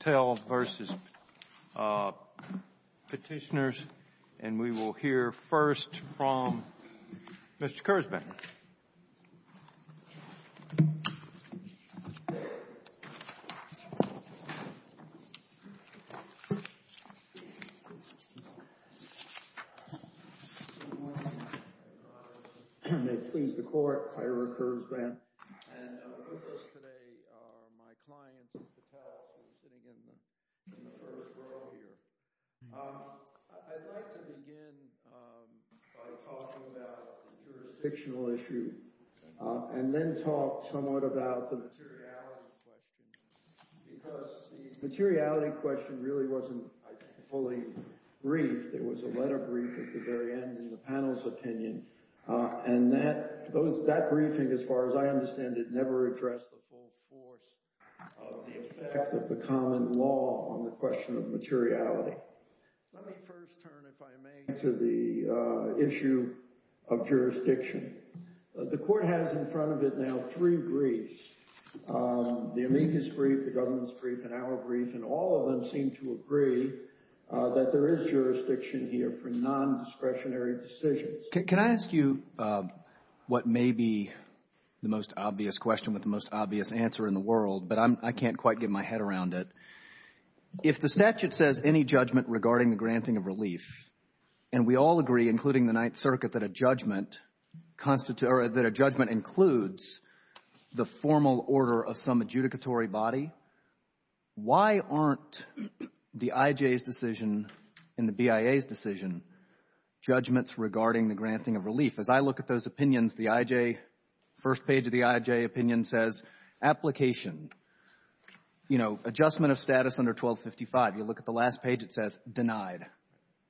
Patel v. Petitioners, and we will hear first from Mr. Kurzban. Good morning. May it please the Court, I am Kurtzban. And with us today are my clients, Patel, sitting in the first row here. I'd like to begin by talking about the jurisdictional issue, and then talk somewhat about the materiality question, because the materiality question really wasn't fully briefed. There was a letter brief at the very end in the panel's opinion, and that briefing, as far as I understand it, never addressed the full force of the effect of the common law on the question of materiality. Let me first turn, if I may, to the issue of jurisdiction. The Court has in front of it now three briefs, the amicus brief, the government's brief, and our brief, and all of them seem to agree that there is jurisdiction here for nondiscretionary decisions. Can I ask you what may be the most obvious question with the most obvious answer in the world, but I can't quite get my head around it. If the statute says any judgment regarding the granting of relief, and we all agree, including the Ninth Circuit, that a judgment includes the formal order of some adjudicatory body, why aren't the IJ's decision and granting of relief, as I look at those opinions, the IJ, first page of the IJ opinion says application, you know, adjustment of status under 1255. You look at the last page, it says denied.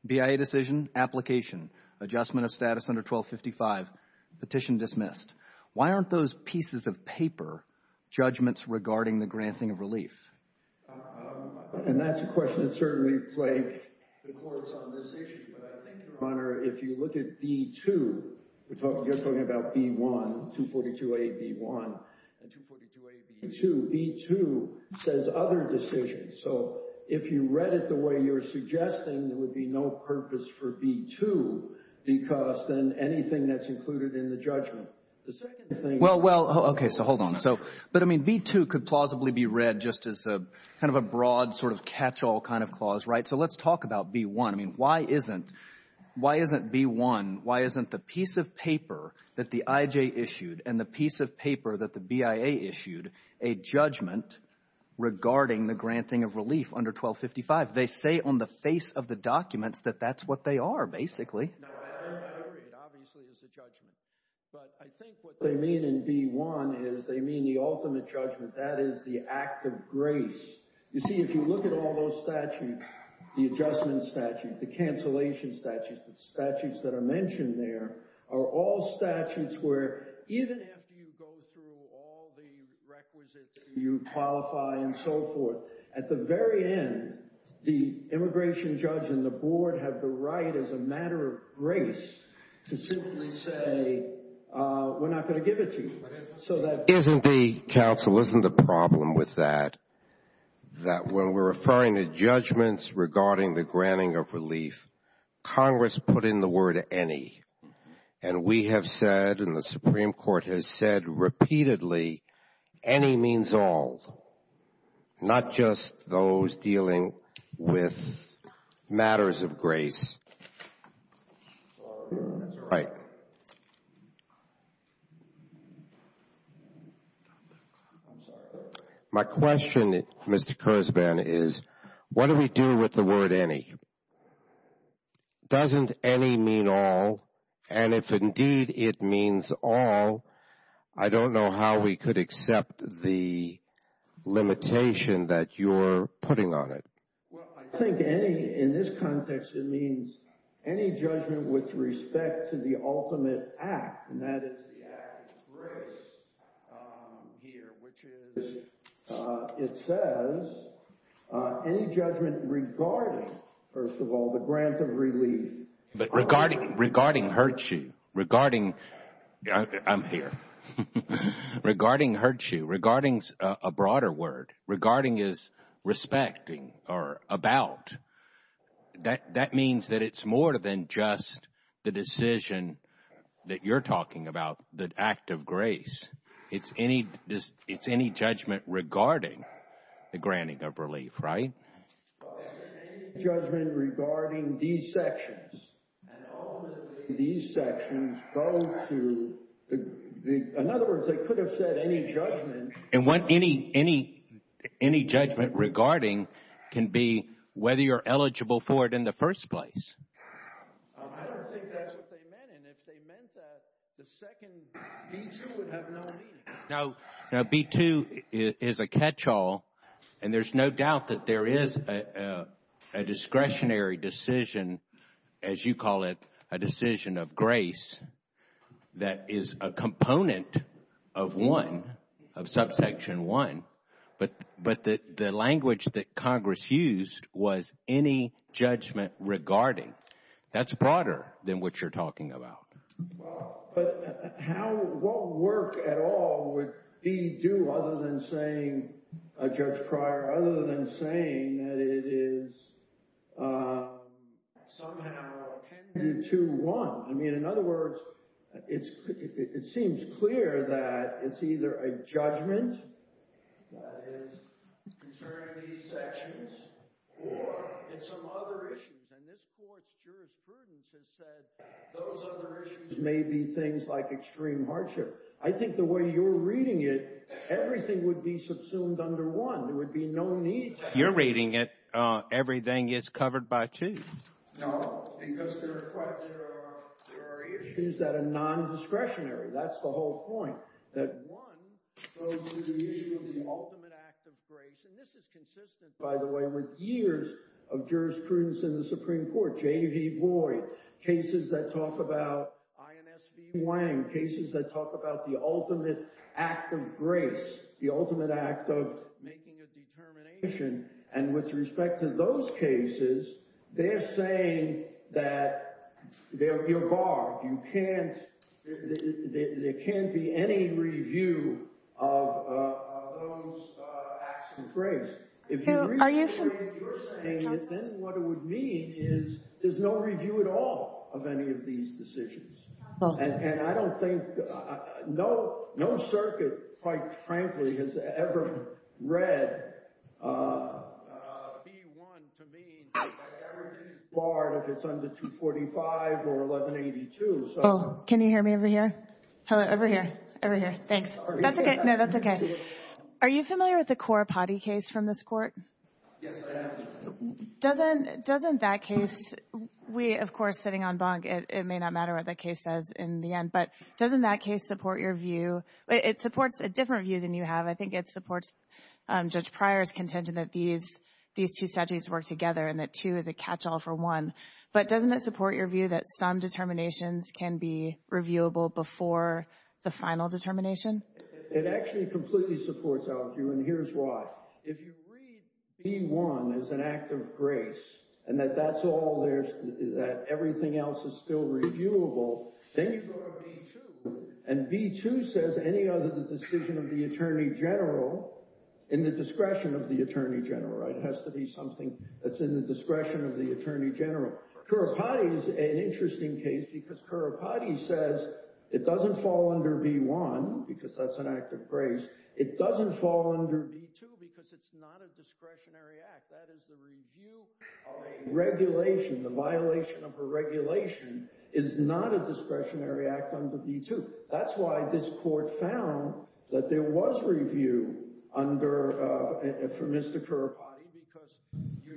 BIA decision, application, adjustment of status under 1255, petition dismissed. Why aren't those pieces of paper judgments regarding the granting of relief? And that's a question that certainly plagued the courts on this issue, but I think, Your Honor, if you look at B-2, you're talking about B-1, 242a-B-1, and 242a-B-2, B-2 says other decisions. So if you read it the way you're suggesting, there would be no purpose for B-2 because then anything that's included in the judgment. The second thing… Well, well, okay, so hold on. So, but I mean, B-2 could plausibly be read just as a kind of a broad sort of catch-all kind of clause, right? So let's talk about B-1. I mean, why isn't, why isn't B-1, why isn't the piece of paper that the IJ issued and the piece of paper that the BIA issued a judgment regarding the granting of relief under 1255? They say on the face of the documents that that's what they are, basically. It obviously is a judgment, but I think what they mean in B-1 is they mean the ultimate judgment, that is the act of grace. You see, if you look at all those statutes, the adjustment statute, the cancellation statute, the statutes that are mentioned there are all statutes where even after you go through all the requisites, you qualify and so forth, at the very end, the immigration judge and the board have the right as a matter of grace to simply say we're not going to give it to you. Isn't the, counsel, isn't the problem with that, that when we're referring to judgments regarding the granting of relief, Congress put in the word any, and we have said and the Supreme Court has said repeatedly any means all, not just those dealing with matters of grace. My question, Mr. Kurzban, is what do we do with the word any? Doesn't any mean all? And if indeed it means all, I don't know how we could accept the limitation that you're putting on it. Well, I think any, in this context, it means any judgment with respect to the ultimate act, and that is the act of grace here, which is, it says any judgment regarding, first of all, the grant of relief. But regarding, regarding hurts you, regarding, I'm here, regarding hurts you, regarding is a broader word, regarding is respecting or about. That means that it's more than just the decision that you're talking about, the act of grace. It's any, it's any judgment regarding the granting of relief, right? Any judgment regarding these sections, and ultimately these sections go to, in other words, they could have said any judgment. And what any, any, any judgment regarding can be whether you're eligible for it in the first place. I don't think that's what they meant, and if they meant that, the second B-2 would have no meaning. No, no, B-2 is a catch-all, and there's no doubt that there is a discretionary decision, as you call it, a decision of grace that is a component of one, of subsection one, but the language that Congress used was any judgment regarding. That's broader than what you're talking about. Well, but how, what work at all would B-2, other than saying, Judge Pryor, other than saying that it is somehow appended to one? I mean, in other words, it seems clear that it's either a judgment that is concerning these sections, or it's some other issues, and this Court's jurisprudence has said those other issues may be things like extreme hardship. I think the way you're reading it, everything would be subsumed under one. There would be no need to have... You're reading it, everything is covered by two. No, because there are issues that are non-discretionary. That's the whole point, that one goes to the issue of the ultimate act of grace, and this is consistent, by the way, with years of jurisprudence in the Supreme Court, J.V. Boyd, cases that talk about I.N.S.B. Wang, cases that talk about the ultimate act of grace, the ultimate act of making a determination, and with respect to those cases, they're saying that, you're barred, you can't, there can't be any review of those acts of grace. If you read the way you're saying it, then what it would mean is there's no review at all of any of these decisions, and I don't think, no circuit, quite frankly, has ever read that everything is barred if it's under 245 or 1182, so... Oh, can you hear me over here? Over here, over here, thanks. No, that's okay. Are you familiar with the Corapati case from this Court? Yes, I am. Doesn't that case, we, of course, sitting on Bonk, it may not matter what that case says in the end, but doesn't that case support your view, it supports a different view than you have, I think it supports Judge Pryor's contention that these two statutes work together and that two is a catch-all for one, but doesn't it support your view that some determinations can be reviewable before the final determination? It actually completely supports our view, and here's why. If you read B1 as an act of grace, and that that's all there, that everything else is still reviewable, then you go to B2, and B2 says any other decision of the Attorney General in the discretion of the Attorney General, right? It has to be something that's in the discretion of the Attorney General. Corapati is an interesting case because Corapati says it doesn't fall under B1, because that's an act of grace, it doesn't fall under B2 because it's not a discretionary act, that is the review of a regulation, the violation of a regulation is not a discretionary act under B2. That's why this Court found that there was review under, for Mr. Corapati, because you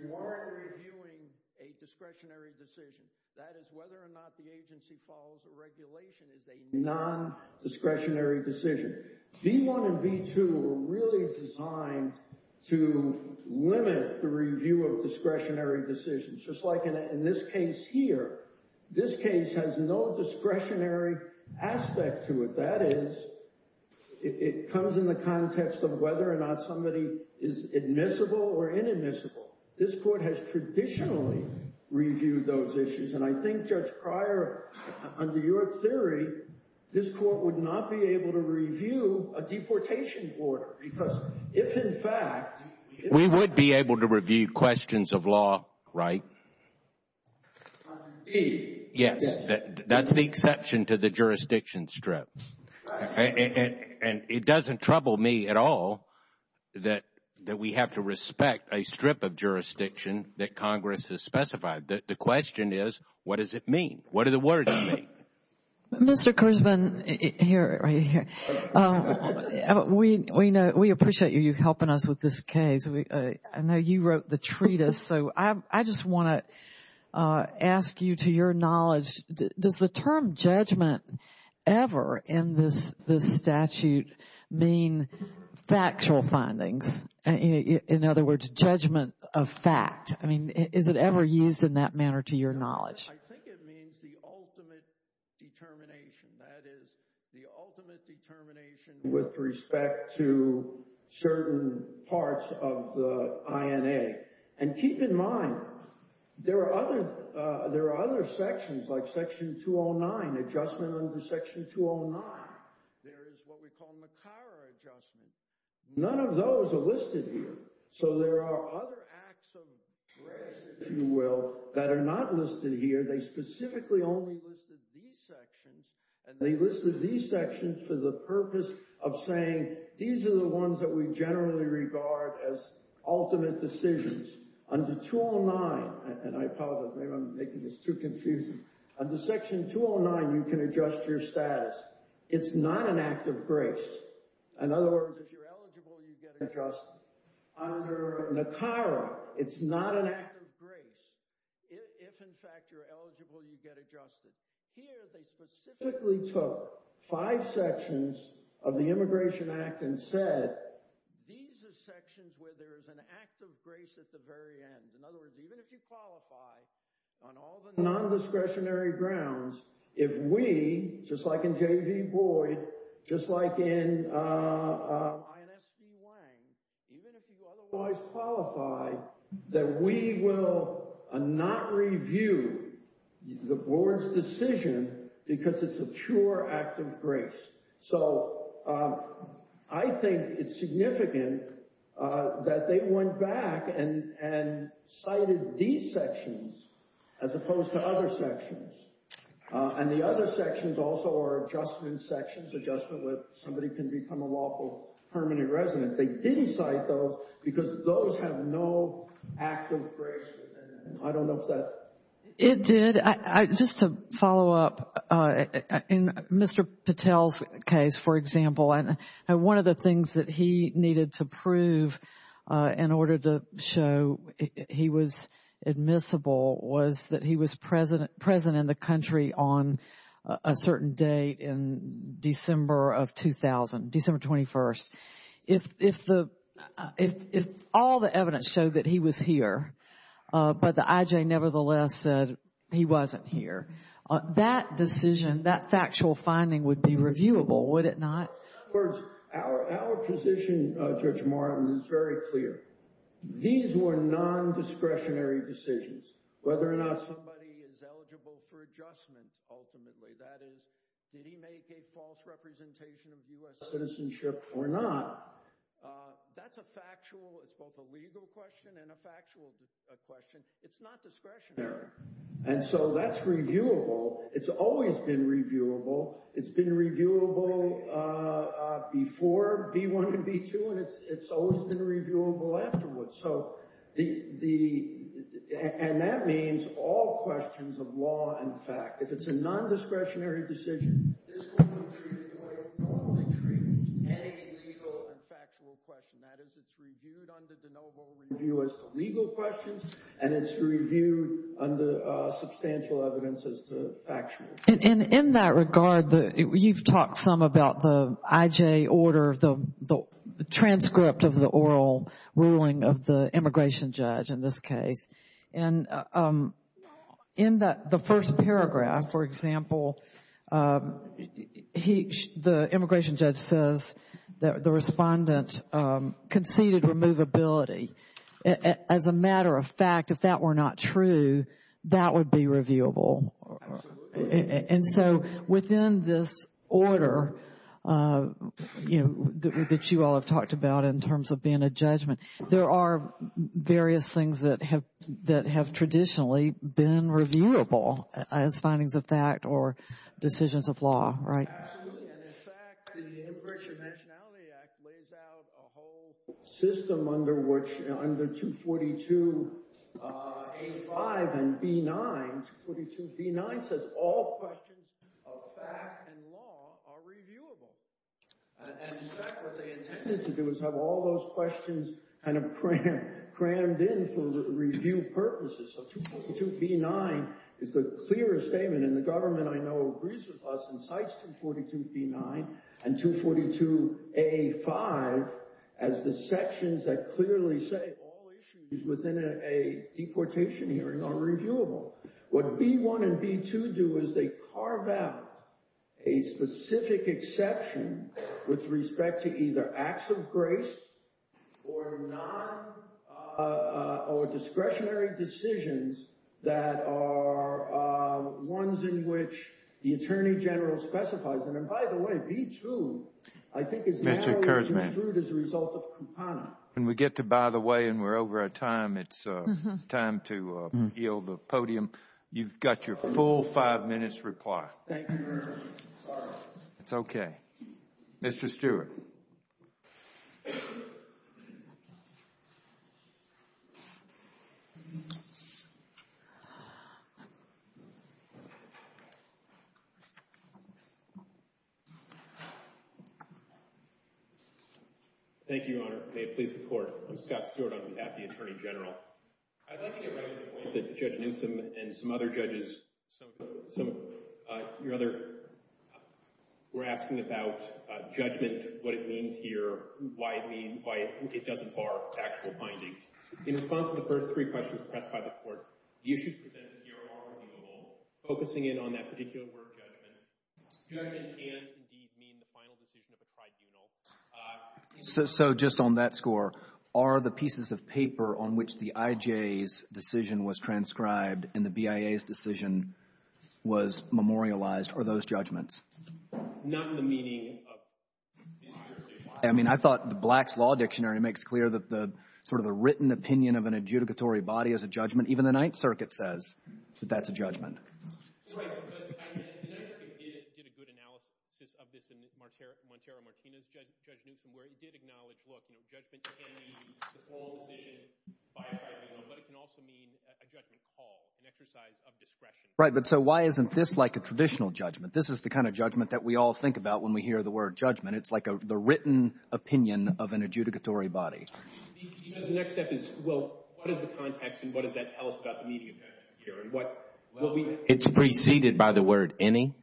That is whether or not the agency follows a regulation is a non-discretionary decision. B1 and B2 were really designed to limit the review of discretionary decisions. Just like in this case here, this case has no discretionary aspect to it. That is, it comes in the context of whether or not somebody is admissible or inadmissible. This Court has traditionally reviewed those issues, and I think, Judge Pryor, under your theory, this Court would not be able to review a deportation order, because if in fact We would be able to review questions of law, right? Indeed. Yes, that's the exception to the jurisdiction strips. And it doesn't trouble me at all that we have to respect a strip of jurisdiction that Congress has specified. The question is, what does it mean? What do the words mean? Mr. Kirshman, we appreciate you helping us with this case. I know you wrote the treatise, so I just want to ask you to your knowledge, does the term judgment ever in this statute mean factual findings? In other words, judgment of fact. I mean, is it ever used in that manner to your knowledge? I think it means the ultimate determination. That is, the ultimate determination with respect to certain parts of the INA. And keep in mind, there are other sections, like Section 209, adjustment under Section 209. There is what we call MACARA adjustment. None of those are listed here. So there are other acts of grace, if you will, that are not listed here. They specifically only listed these sections, and they listed these sections for the purpose of saying, these are the ones that we generally regard as ultimate decisions. Under 209, and I apologize, maybe I'm making this too confusing. Under Section 209, you can adjust your status. It's not an act of grace. In other words, if you're eligible, you get adjusted. Under MACARA, it's not an act of grace. If, in fact, you're eligible, you get adjusted. Here, they specifically took five sections of the Immigration Act and said, these are sections where there is an act of grace at the very end. In other words, even if you qualify on all the non-discretionary grounds, if we, just like in J.V. Boyd, just like in I.S.P. Wang, even if you otherwise qualify, that we will not review the Board's decision because it's a pure act of grace. So I think it's significant that they went back and cited these sections as opposed to other sections. And the other sections also are adjustment sections, adjustment where somebody can become a lawful permanent resident. They didn't cite those because those have no act of grace. I don't know if that... It did. Just to follow up, in Mr. Patel's case, for example, one of the things that he needed to prove in order to show he was admissible was that he was present in the country on a certain date in December of 2000, December 21st. If all the evidence showed that he was here, but the I.J. nevertheless said he wasn't here, that decision, that factual finding would be reviewable, would it not? Our position, Judge Martin, is very clear. These were non-discretionary decisions. Whether or not somebody is eligible for adjustment, ultimately, that is, did he make a false representation of U.S. citizenship or not, that's a factual, it's both a legal question and a factual question. It's not discretionary. And so that's reviewable. It's always been reviewable. It's been reviewable before B-1 and B-2, and it's always been reviewable afterwards. And that means all questions of law and fact. If it's a non-discretionary decision, this will be treated the way it would normally treat any legal and factual question. That is, it's reviewed under the noble review as to legal questions, and it's reviewed under substantial evidence as to factual. And in that regard, you've talked some about the IJ order, the transcript of the oral ruling of the immigration judge in this case. And in the first paragraph, for example, the immigration judge says that the respondent conceded removability. As a matter of fact, if that were not true, that would be reviewable. Absolutely. And so within this order that you all have talked about in terms of being a judgment, there are various things that have traditionally been reviewable as findings of fact or decisions of law, right? Absolutely. And in fact, the Immigration Nationality Act lays out a whole system under which under 242 A-5 and B-9, 242 B-9 says all questions of fact and law are reviewable. And in fact, what they intended to do is have all those questions kind of crammed in for review purposes. So 242 B-9 is the clearest statement, and the government I know agrees with us and cites 242 B-9 and 242 A-5 as the sections that clearly say all issues within a deportation hearing are reviewable. What B-1 and B-2 do is they carve out a specific exception with respect to either acts of grace or discretionary decisions that are ones in which the Attorney General specifies. And by the way, B-2 I think is narrowly construed as a result of Kupana. When we get to by the way and we're over our time, it's time to heal the podium. You've got your full five minutes reply. Thank you, Your Honor. Sorry. It's okay. Mr. Stewart. Thank you, Your Honor. May it please the Court. I'm Scott Stewart on behalf of the Attorney General. I'd like to get right to the point that Judge Newsom and some other judges, some of your other, were asking about judgment, what it means here, why it doesn't bar factual findings. In response to the first three questions pressed by the Court, the issues presented here are reviewable. Focusing in on that particular word judgment, judgment can indeed mean the final decision of the tribunal. So just on that score, are the pieces of paper on which the IJ's decision was transcribed and the BIA's decision was memorialized, are those judgments? Not in the meaning of. I mean, I thought the Black's Law Dictionary makes clear that the sort of the written opinion of an adjudicatory body is a judgment. Even the Ninth Circuit says that that's a judgment. The Ninth Circuit did a good analysis of this in Montero-Martinez, Judge Newsom, where he did acknowledge, look, judgment can mean the final decision by a tribunal, but it can also mean a judgment call, an exercise of discretion. Right, but so why isn't this like a traditional judgment? This is the kind of judgment that we all think about when we hear the word judgment. It's like the written opinion of an adjudicatory body. Because the next step is, well, what is the context and what does that tell us about the media here? It's preceded by the word any.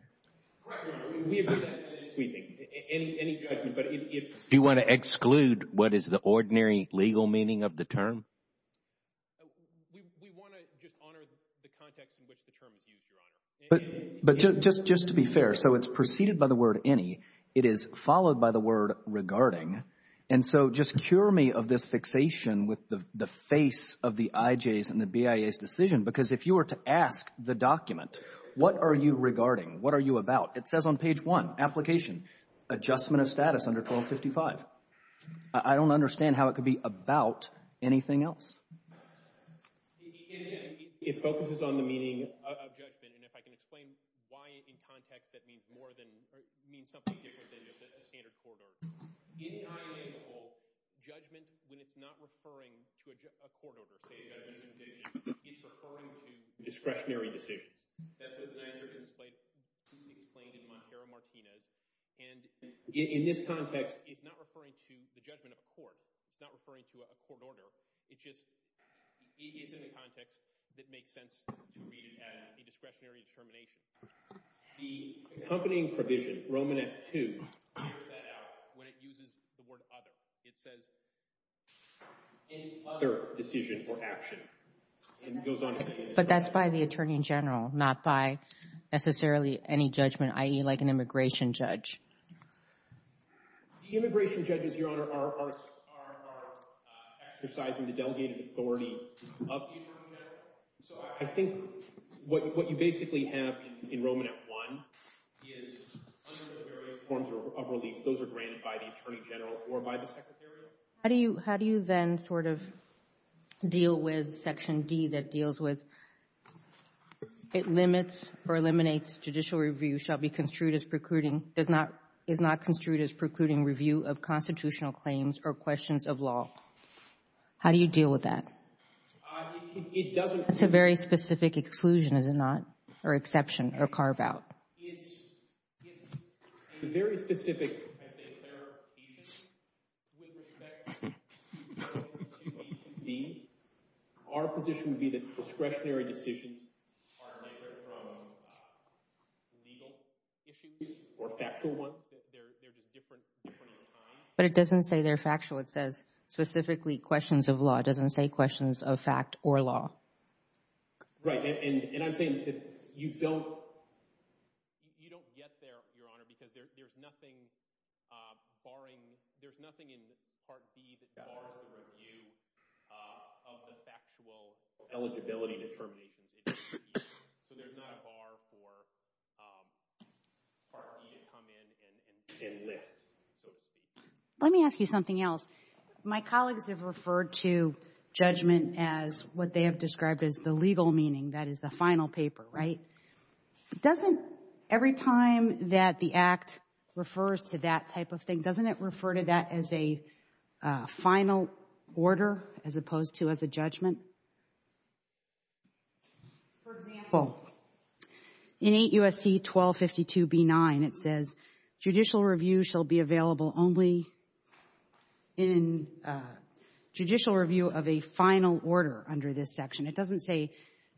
Correct, Your Honor. We agree with that. Any judgment. Do you want to exclude what is the ordinary legal meaning of the term? We want to just honor the context in which the term is used, Your Honor. But just to be fair, so it's preceded by the word any. It is followed by the word regarding. And so just cure me of this fixation with the face of the IJ's and the BIA's decision, because if you were to ask the document, what are you regarding? What are you about? It says on page 1, application, adjustment of status under 1255. I don't understand how it could be about anything else. It focuses on the meaning of judgment. And if I can explain why in context that means more than or means something different than the standard court order. In IJ's rule, judgment, when it's not referring to a court order, say, it's referring to discretionary decisions. That's what Nizer explained in Montero-Martinez. And in this context, it's not referring to the judgment of a court. It's not referring to a court order. It's in the context that makes sense to read it as a discretionary determination. The accompanying provision, Romanet 2, clears that out when it uses the word other. It says any other decision or action. But that's by the Attorney General, not by necessarily any judgment, i.e., like an immigration judge. Immigration judges, Your Honor, are exercising the delegated authority of the Attorney General. So I think what you basically have in Romanet 1 is under the various forms of relief, those are granted by the Attorney General or by the Secretary of State. How do you then sort of deal with Section D that deals with it limits or eliminates judicial review shall be construed as precluding, is not construed as precluding review of constitutional claims or questions of law? How do you deal with that? It doesn't. That's a very specific exclusion, is it not, or exception, or carve-out. It's a very specific, I'd say, clarification. With respect to D, our position would be that discretionary decisions are different from legal issues or factual ones. They're just different in time. But it doesn't say they're factual. It says specifically questions of law. It doesn't say questions of fact or law. Right. And I'm saying you don't get there, Your Honor, because there's nothing barring, there's nothing in Part D that bars the review of the factual eligibility determinations. So there's not a bar for Part D to come in and lift, so to speak. Let me ask you something else. My colleagues have referred to judgment as what they have described as the legal meaning, that is the final paper, right? Doesn't every time that the Act refers to that type of thing, doesn't it refer to that as a final order as opposed to as a judgment? For example, in 8 U.S.C. 1252b9, it says, judicial review shall be available only in judicial review of a final order under this section. It doesn't say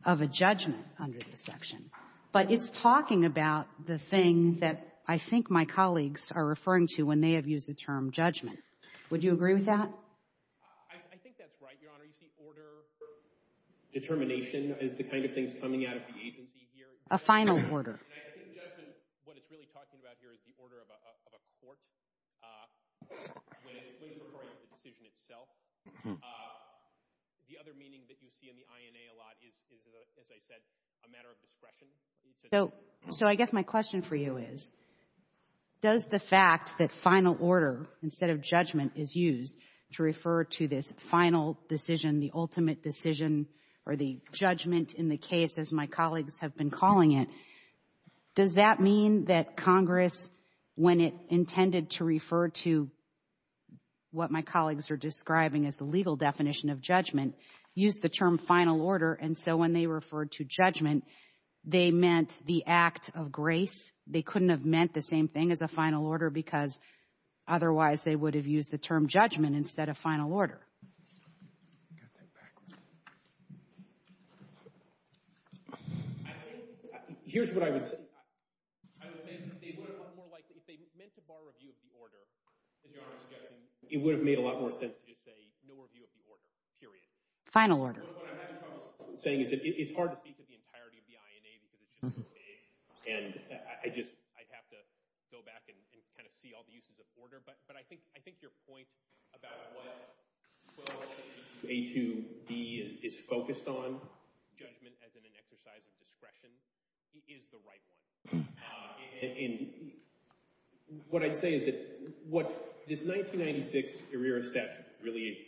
of a judgment under this section. But it's talking about the thing that I think my colleagues are referring to when they have used the term judgment. Would you agree with that? I think that's right, Your Honor. You see order, determination is the kind of thing that's coming out of the agency here. A final order. And I think judgment, what it's really talking about here is the order of a court when it's referring to the decision itself. The other meaning that you see in the INA a lot is, as I said, a matter of discretion. So I guess my question for you is, does the fact that final order instead of judgment is used to refer to this final decision, the ultimate decision, or the judgment in the case as my colleagues have been calling it, does that mean that Congress, when it intended to refer to what my colleagues are describing as the legal definition of judgment, used the term final order. And so when they referred to judgment, they meant the act of grace. They couldn't have meant the same thing as a final order because otherwise they would have used the term judgment instead of final order. I think here's what I would say. I would say that if they meant to borrow a view of the order, it would have made a lot more sense to just say no review of the order, period. Final order. What I'm having trouble saying is that it's hard to speak of the entirety of the INA because it's just vague. And I'd have to go back and kind of see all the uses of order. But I think your point about what A2B is focused on, judgment as in an exercise of discretion, is the right one. And what I'd say is that what this 1996 arrear of statute really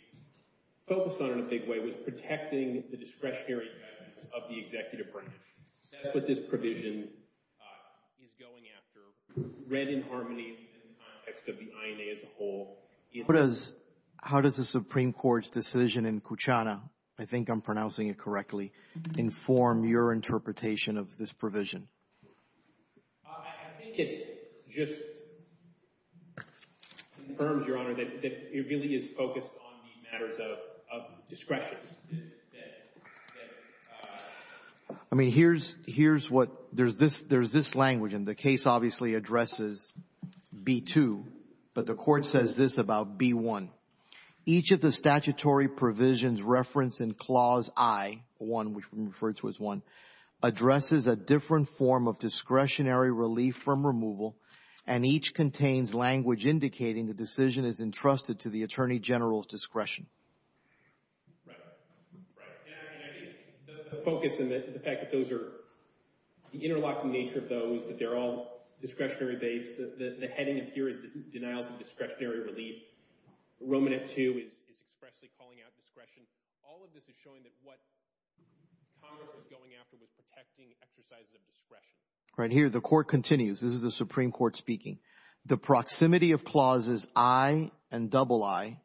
focused on in a big way was protecting the discretionary guidance of the executive branch. That's what this provision is going after. Read in harmony in the context of the INA as a whole. How does the Supreme Court's decision in Kuchana, I think I'm pronouncing it correctly, inform your interpretation of this provision? I think it just confirms, Your Honor, that it really is focused on the matters of discretion. I mean, here's what, there's this language, and the case obviously addresses B2, but the court says this about B1. Each of the statutory provisions referenced in Clause I, which we referred to as I, addresses a different form of discretionary relief from removal, and each contains language indicating the decision is entrusted to the Attorney General's discretion. Right. The focus and the fact that those are, the interlocking nature of those, that they're all discretionary-based, the heading of here is denials of discretionary relief. Roman at 2 is expressly calling out discretion. All of this is showing that what Congress is going after was protecting exercises of discretion. Right here, the court continues. This is the Supreme Court speaking. The proximity of Clauses I and II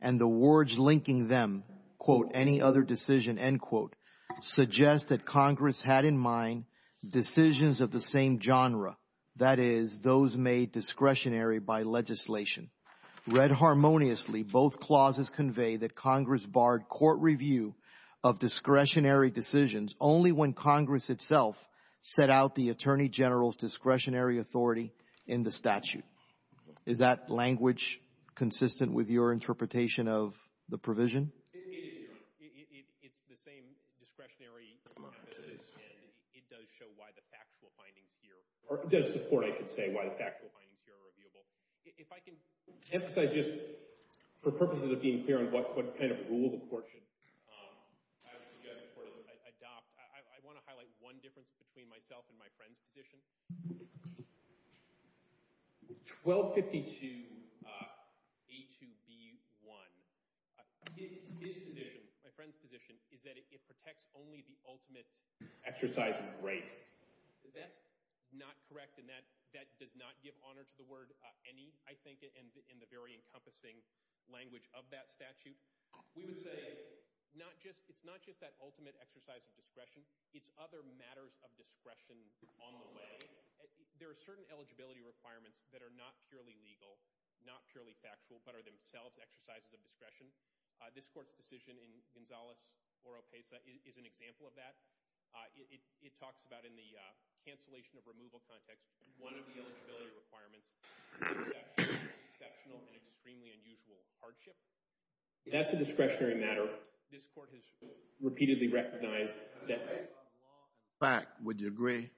and the words linking them, quote, any other decision, end quote, suggest that Congress had in mind decisions of the same genre, that is those made discretionary by legislation. Read harmoniously, both clauses convey that Congress barred court review of discretionary decisions only when Congress itself set out the Attorney General's discretionary authority in the statute. Is that language consistent with your interpretation of the provision? It is, Your Honor. It's the same discretionary emphasis, and it does show why the factual findings here, or it does support, I should say, why the factual findings here are reviewable. If I can emphasize just for purposes of being clear on what kind of rule the court should adopt, I want to highlight one difference between myself and my friend's position. 1252A2B1. His position, my friend's position, is that it protects only the ultimate exercise of grace. That's not correct, and that does not give honor to the word any, I think, in the very encompassing language of that statute. We would say it's not just that ultimate exercise of discretion, it's other matters of discretion on the way. There are certain eligibility requirements that are not purely legal, not purely factual, but are themselves exercises of discretion. This court's decision in Gonzales-Oropesa is an example of that. It talks about in the cancellation of removal context, one of the eligibility requirements, exceptional and extremely unusual hardship. That's a discretionary matter. This court has repeatedly recognized that. Would you agree?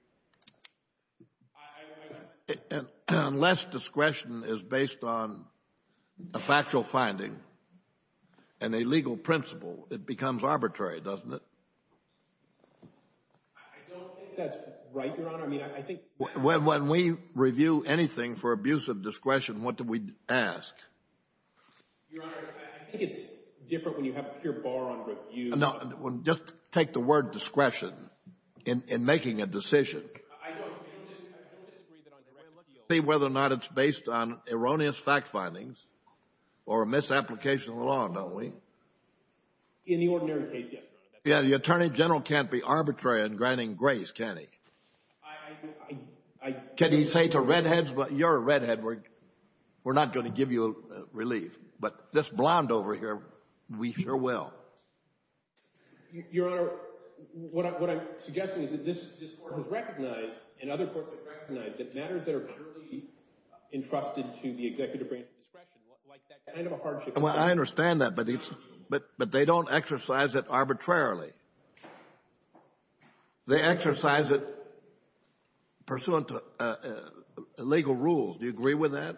Unless discretion is based on a factual finding and a legal principle, it becomes arbitrary, doesn't it? I don't think that's right, Your Honor. When we review anything for abuse of discretion, what do we ask? Your Honor, I think it's different when you have a pure bar on review. Just take the word discretion in making a decision. I don't disagree that on direct appeal. See whether or not it's based on erroneous fact findings or a misapplication of the law, don't we? In the ordinary case, yes, Your Honor. The Attorney General can't be arbitrary in granting grace, can he? Can he say to redheads, you're a redhead, we're not going to give you relief, but this blonde over here, we sure will. Your Honor, what I'm suggesting is that this court has recognized and other courts have recognized that matters that are purely entrusted to the executive branch of discretion, like that kind of a hardship. I understand that, but they don't exercise it arbitrarily. They exercise it pursuant to legal rules. Do you agree with that?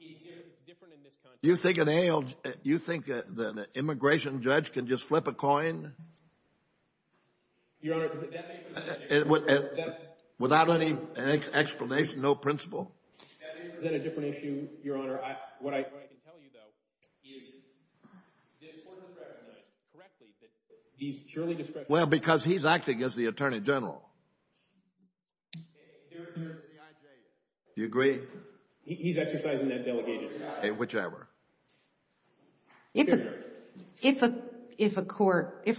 It's different in this country. You think an immigration judge can just flip a coin? Your Honor, that may present a different issue. Without any explanation, no principle? That may present a different issue, Your Honor. What I can tell you, though, is this court has recognized correctly Well, because he's acting as the Attorney General. Do you agree? He's exercising that delegation. Whichever. If a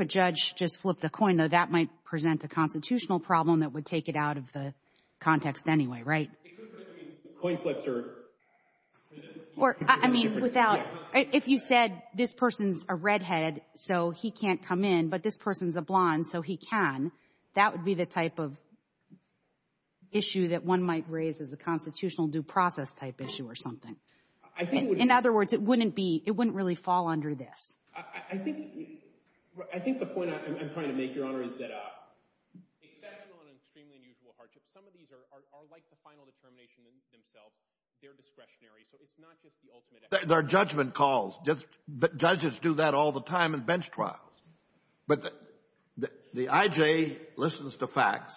judge just flipped a coin, though, that might present a constitutional problem that would take it out of the context anyway, right? Coin flips are... I mean, if you said this person's a redhead, so he can't come in, but this person's a blonde, so he can, that would be the type of issue that one might raise as a constitutional due process type issue or something. In other words, it wouldn't really fall under this. I think the point I'm trying to make, Your Honor, is that exceptional and extremely unusual hardships, some of these are like the final determination themselves. They're discretionary, so it's not just the ultimate... They're judgment calls. Judges do that all the time in bench trials. But the I.J. listens to facts,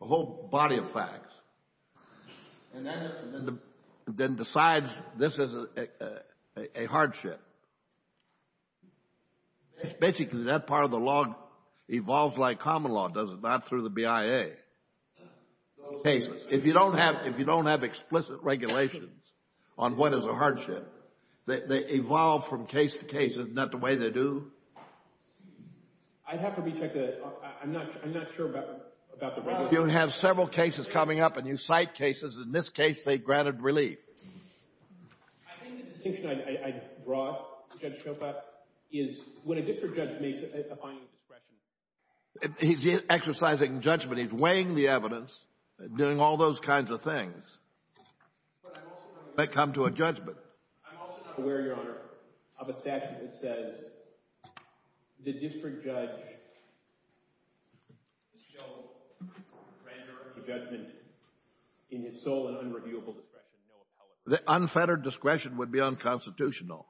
a whole body of facts, and then decides this is a hardship. Basically, that part of the law evolves like common law does it, not through the BIA cases. If you don't have explicit regulations on what is a hardship, they evolve from case to case. Isn't that the way they do? I'd have to recheck that. I'm not sure about the regulations. You have several cases coming up, and you cite cases. In this case, they granted relief. I think the distinction I brought to Judge Chopat is when a district judge makes a finding of discretion... He's exercising judgment. He's weighing the evidence, doing all those kinds of things. They come to a judgment. I'm also not aware, Your Honor, of a statute that says the district judge shall render the judgment in his sole and unreviewable discretion, no appellate. The unfettered discretion would be unconstitutional.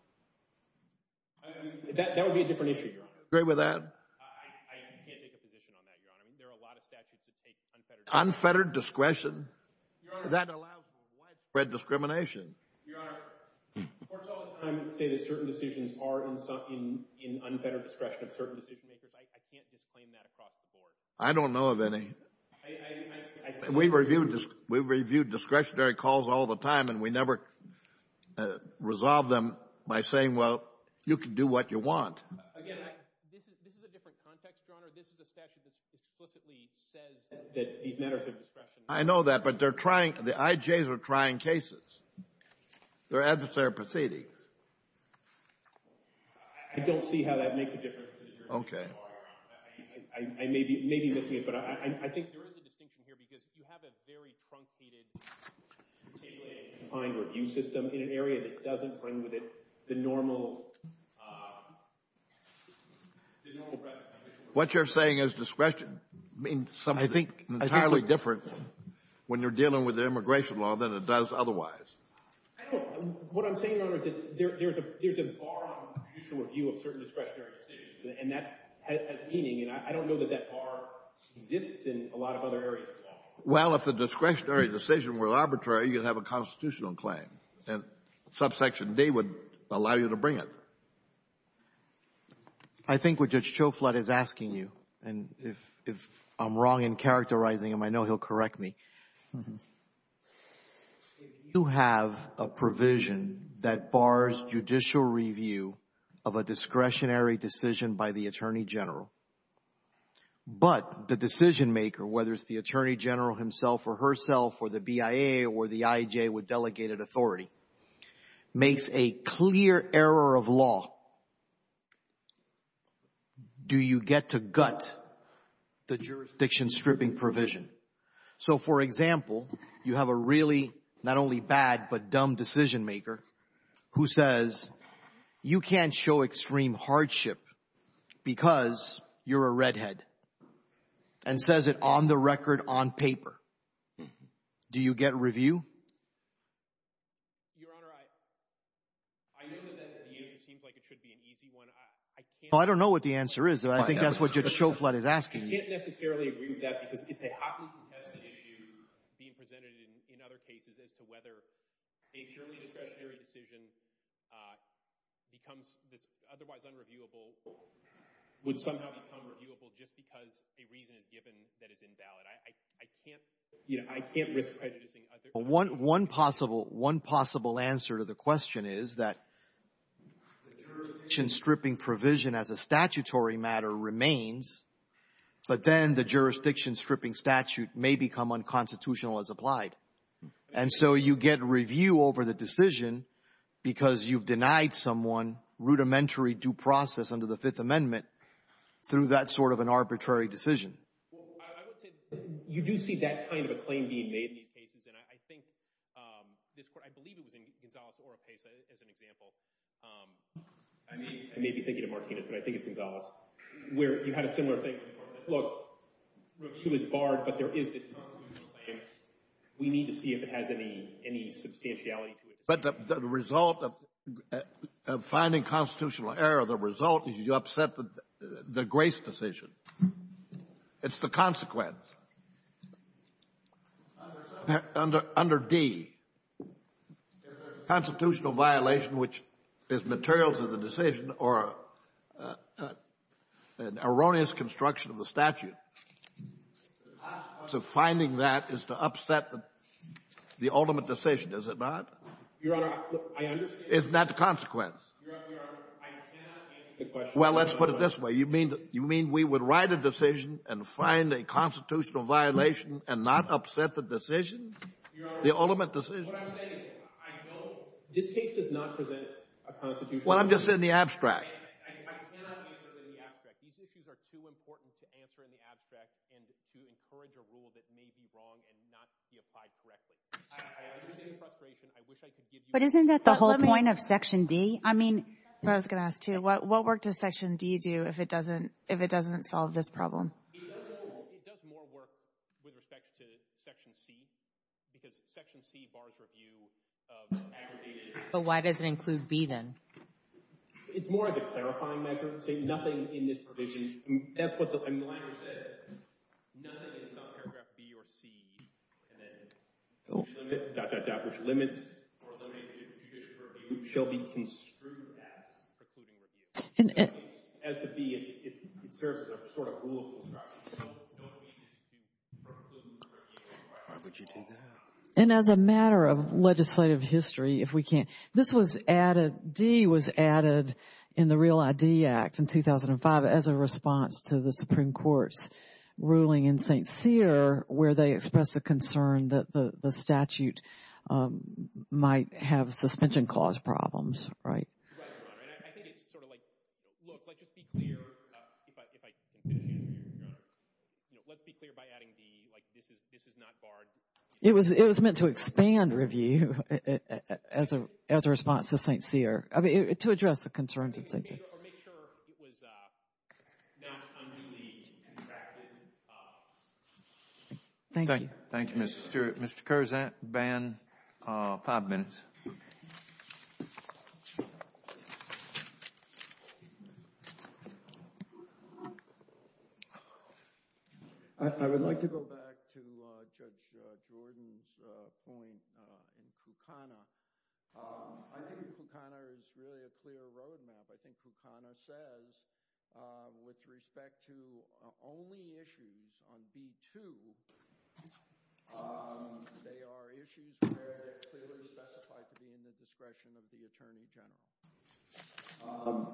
That would be a different issue, Your Honor. Agree with that? I can't make a position on that, Your Honor. There are a lot of statutes that take unfettered discretion. Unfettered discretion? That allows widespread discrimination. Your Honor, courts all the time say that certain decisions are in unfettered discretion of certain decision-makers. I can't disclaim that across the board. I don't know of any. We review discretionary calls all the time, and we never resolve them by saying, Again, this is a different context, Your Honor. This is a statute that explicitly says that these matters of discretion... I know that, but they're trying, the IJs are trying cases. They're adversarial proceedings. I don't see how that makes a difference. Okay. I may be missing it, but I think there is a distinction here because you have a very truncated, detailed and defined review system in an area that doesn't bring with it the normal... What you're saying is discretion means something entirely different when you're dealing with the immigration law than it does otherwise. I don't know. What I'm saying, Your Honor, is that there's a bar on judicial review of certain discretionary decisions, and that has meaning, and I don't know that that bar exists in a lot of other areas as well. Well, if the discretionary decision were arbitrary, you'd have a constitutional claim, and subsection D would allow you to bring it. I think what Judge Choflot is asking you, and if I'm wrong in characterizing him, I know he'll correct me. If you have a provision that bars judicial review of a discretionary decision by the Attorney General, but the decision-maker, whether it's the Attorney General himself or herself or the BIA or the IJ with delegated authority, makes a clear error of law, do you get to gut the jurisdiction-stripping provision? So, for example, you have a really, not only bad, but dumb decision-maker who says, you can't show extreme hardship because you're a redhead, and says it on the record on paper. Do you get review? Your Honor, I know that the answer seems like it should be an easy one. Well, I don't know what the answer is. I think that's what Judge Choflot is asking you. I can't necessarily agree with that because it's a hotly contested issue being presented in other cases as to whether a purely discretionary decision that's otherwise unreviewable would somehow become reviewable just because a reason is given that is invalid. I can't risk prejudicing other people. One possible answer to the question is that the jurisdiction-stripping provision as a statutory matter remains, but then the jurisdiction-stripping statute may become unconstitutional as applied. And so you get review over the decision because you've denied someone rudimentary due process under the Fifth Amendment through that sort of an arbitrary decision. Well, I would say, you do see that kind of a claim being made in these cases, and I think this Court, I believe it was in Gonzales-Oropesa as an example. I may be thinking of Martinez, but I think it's Gonzales, where you had a similar thing. Look, review is barred, but there is this constitutional claim. We need to see if it has any substantiality to it. But the result of finding constitutional error, the result is you upset the Grace decision. It's the consequence. Under D, there's a constitutional violation which is material to the decision or an erroneous construction of the statute. The consequence of finding that is to upset the ultimate decision, is it not? Your Honor, I understand. Isn't that the consequence? Your Honor, I cannot answer the question. Well, let's put it this way. You mean we would write a decision and find a constitutional violation and not upset the decision, the ultimate decision? Your Honor, what I'm saying is I don't — this case does not present a constitutional — Well, I'm just in the abstract. I cannot answer in the abstract. These issues are too important to answer in the abstract and to encourage a rule that may be wrong and not be applied correctly. I understand the frustration. I wish I could give you — But isn't that the whole point of Section D? I mean — That's what I was going to ask, too. What work does Section D do if it doesn't solve this problem? It does more work with respect to Section C because Section C bars review of aggregated — But why does it include B, then? It's more of a clarifying measure. It's saying nothing in this provision — that's what the language says. Nothing in some paragraph B or C and then dot, dot, dot, which limits or limits judicial review shall be construed as precluding review. As to B, it serves as a sort of rule of construction. So what we need is to do precluding review. Why would you do that? And as a matter of legislative history, if we can — This was added — D was added in the Real ID Act in 2005 as a response to the Supreme Court's ruling in St. Cyr where they expressed the concern that the statute might have suspension clause problems, right? Right, Your Honor. And I think it's sort of like, look, let's just be clear if I can finish here, Your Honor. Let's be clear by adding D. Like, this is not barred. It was meant to expand review as a response to St. Cyr to address the concerns of St. Cyr. Or make sure it was not unduly contracted. Thank you. Thank you, Mr. Stewart. Mr. Curzan, ban five minutes. I would like to go back to Judge Jordan's point in Kukana. I think Kukana is really a clear roadmap. I think Kukana says, with respect to only issues on B2, they are issues where they clearly specify to be in the discretion of the Attorney General.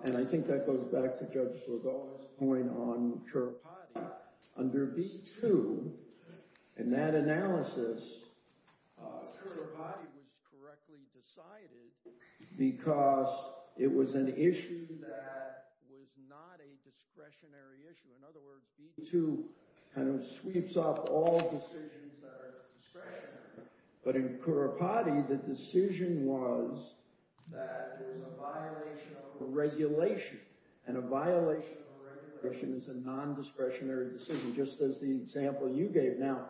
And I think that goes back to Judge Saldana's point on Curapati. Under B2, in that analysis, Curapati was correctly decided because it was an issue that was not a discretionary issue. In other words, B2 kind of sweeps up all decisions that are discretionary. But in Curapati, the decision was that it was a violation of a regulation. And a violation of a regulation is a nondiscretionary decision, just as the example you gave. Now,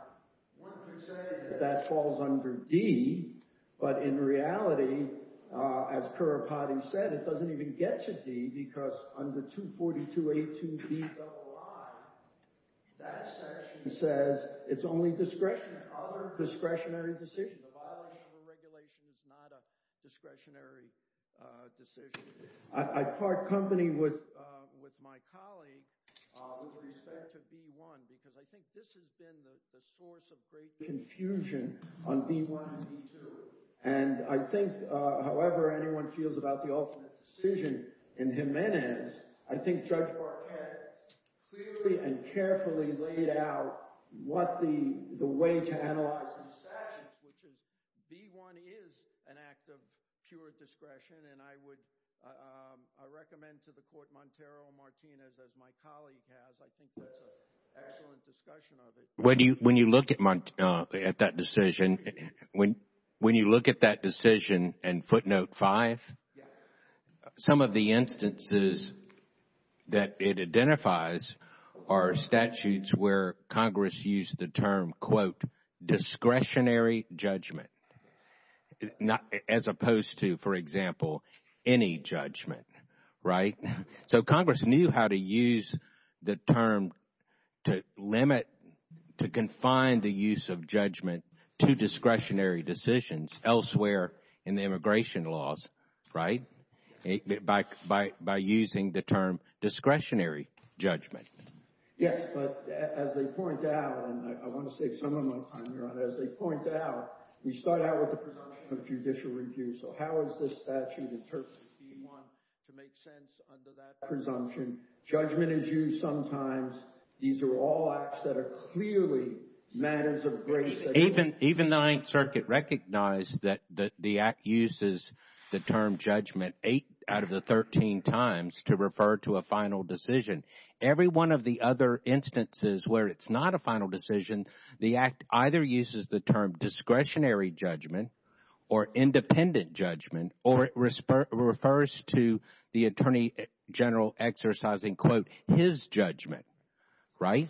one could say that that falls under D. But in reality, as Curapati said, it doesn't even get to D because under 242.82Bii, that section says it's only discretionary. It's like other discretionary decisions. A violation of a regulation is not a discretionary decision. I part company with my colleague with respect to B1 because I think this has been the source of great confusion on B1 and B2. And I think, however anyone feels about the ultimate decision in Jimenez, I think Judge Marquette clearly and carefully laid out the way to analyze these sections, which is B1 is an act of pure discretion. And I would recommend to the Court, Montero and Martinez, as my colleague has, I think that's an excellent discussion of it. When you look at that decision, when you look at that decision in footnote 5, some of the instances that it identifies are statutes where Congress used the term, quote, discretionary judgment as opposed to, for example, any judgment, right? So Congress knew how to use the term to limit, to confine the use of judgment to discretionary decisions elsewhere in the immigration laws, right, by using the term discretionary judgment. Yes, but as they point out, and I want to save some of my time here, as they point out, we start out with the presumption of judicial review. So how is this statute interpreted in B1 to make sense under that presumption? Judgment is used sometimes. These are all acts that are clearly matters of grace. Even the Ninth Circuit recognized that the act uses the term judgment 8 out of the 13 times to refer to a final decision. Every one of the other instances where it's not a final decision, the act either uses the term discretionary judgment or independent judgment or it refers to the attorney general exercising, quote, his judgment, right?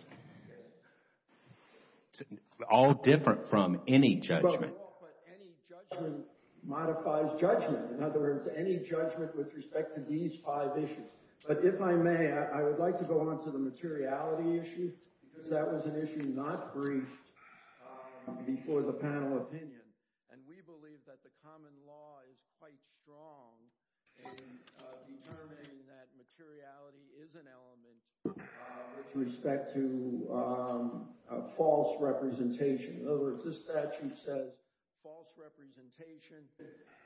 All different from any judgment. But any judgment modifies judgment. In other words, any judgment with respect to these five issues. But if I may, I would like to go on to the materiality issue because that was an issue not briefed before the panel opinion. And we believe that the common law is quite strong in determining that materiality is an element with respect to false representation. In other words, this statute says false representation.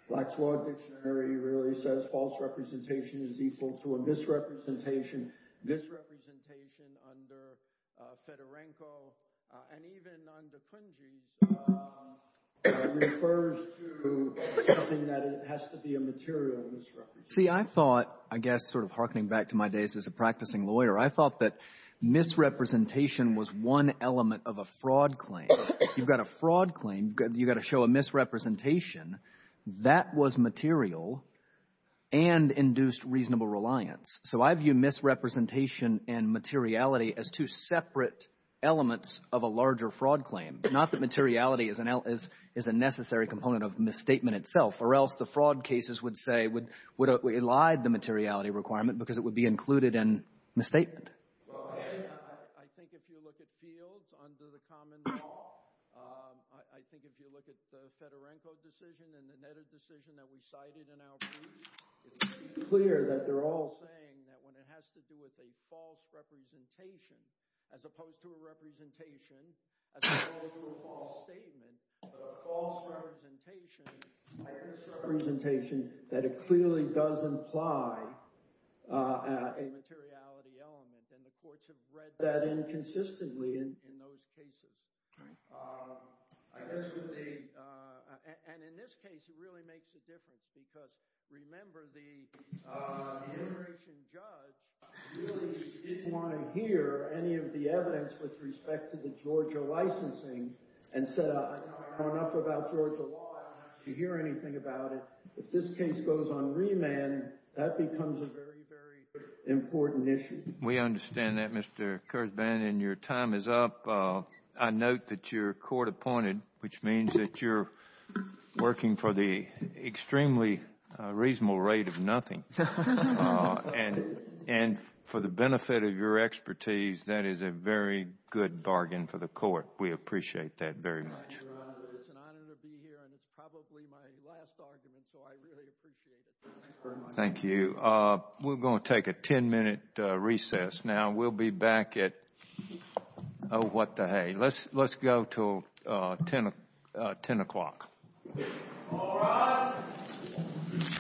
Black's Law Dictionary really says false representation is equal to a misrepresentation. Misrepresentation under Fedorenko and even under Kuhnjiang refers to something that has to be a material misrepresentation. See, I thought, I guess, sort of harkening back to my days as a practicing lawyer, I thought that misrepresentation was one element of a fraud claim. You've got a fraud claim. You've got to show a misrepresentation. That was material and induced reasonable reliance. So I view misrepresentation and materiality as two separate elements of a larger fraud claim, not that materiality is a necessary component of misstatement itself, or else the fraud cases would say would elide the materiality requirement because it would be included in misstatement. Go ahead. I think if you look at fields under the common law, I think if you look at the Fedorenko decision and the Netta decision that we cited in our brief, it's clear that they're all saying that when it has to do with a false representation, as opposed to a representation, as opposed to a false statement, a false representation, a misrepresentation, that it clearly does imply a materiality element and the courts have read that inconsistently in those cases. And in this case, it really makes a difference because remember the immigration judge really didn't want to hear any of the evidence with respect to the Georgia licensing and said I know enough about Georgia law. I don't have to hear anything about it. If this case goes on remand, that becomes a very, very important issue. We understand that, Mr. Kurzban, and your time is up. I note that you're court appointed, which means that you're working for the extremely reasonable rate of nothing. And for the benefit of your expertise, that is a very good bargain for the court. We appreciate that very much. It's an honor to be here, and it's probably my last argument, so I really appreciate it. Thank you. We're going to take a 10-minute recess now. We'll be back at, oh, what the hay. Let's go until 10 o'clock. All rise.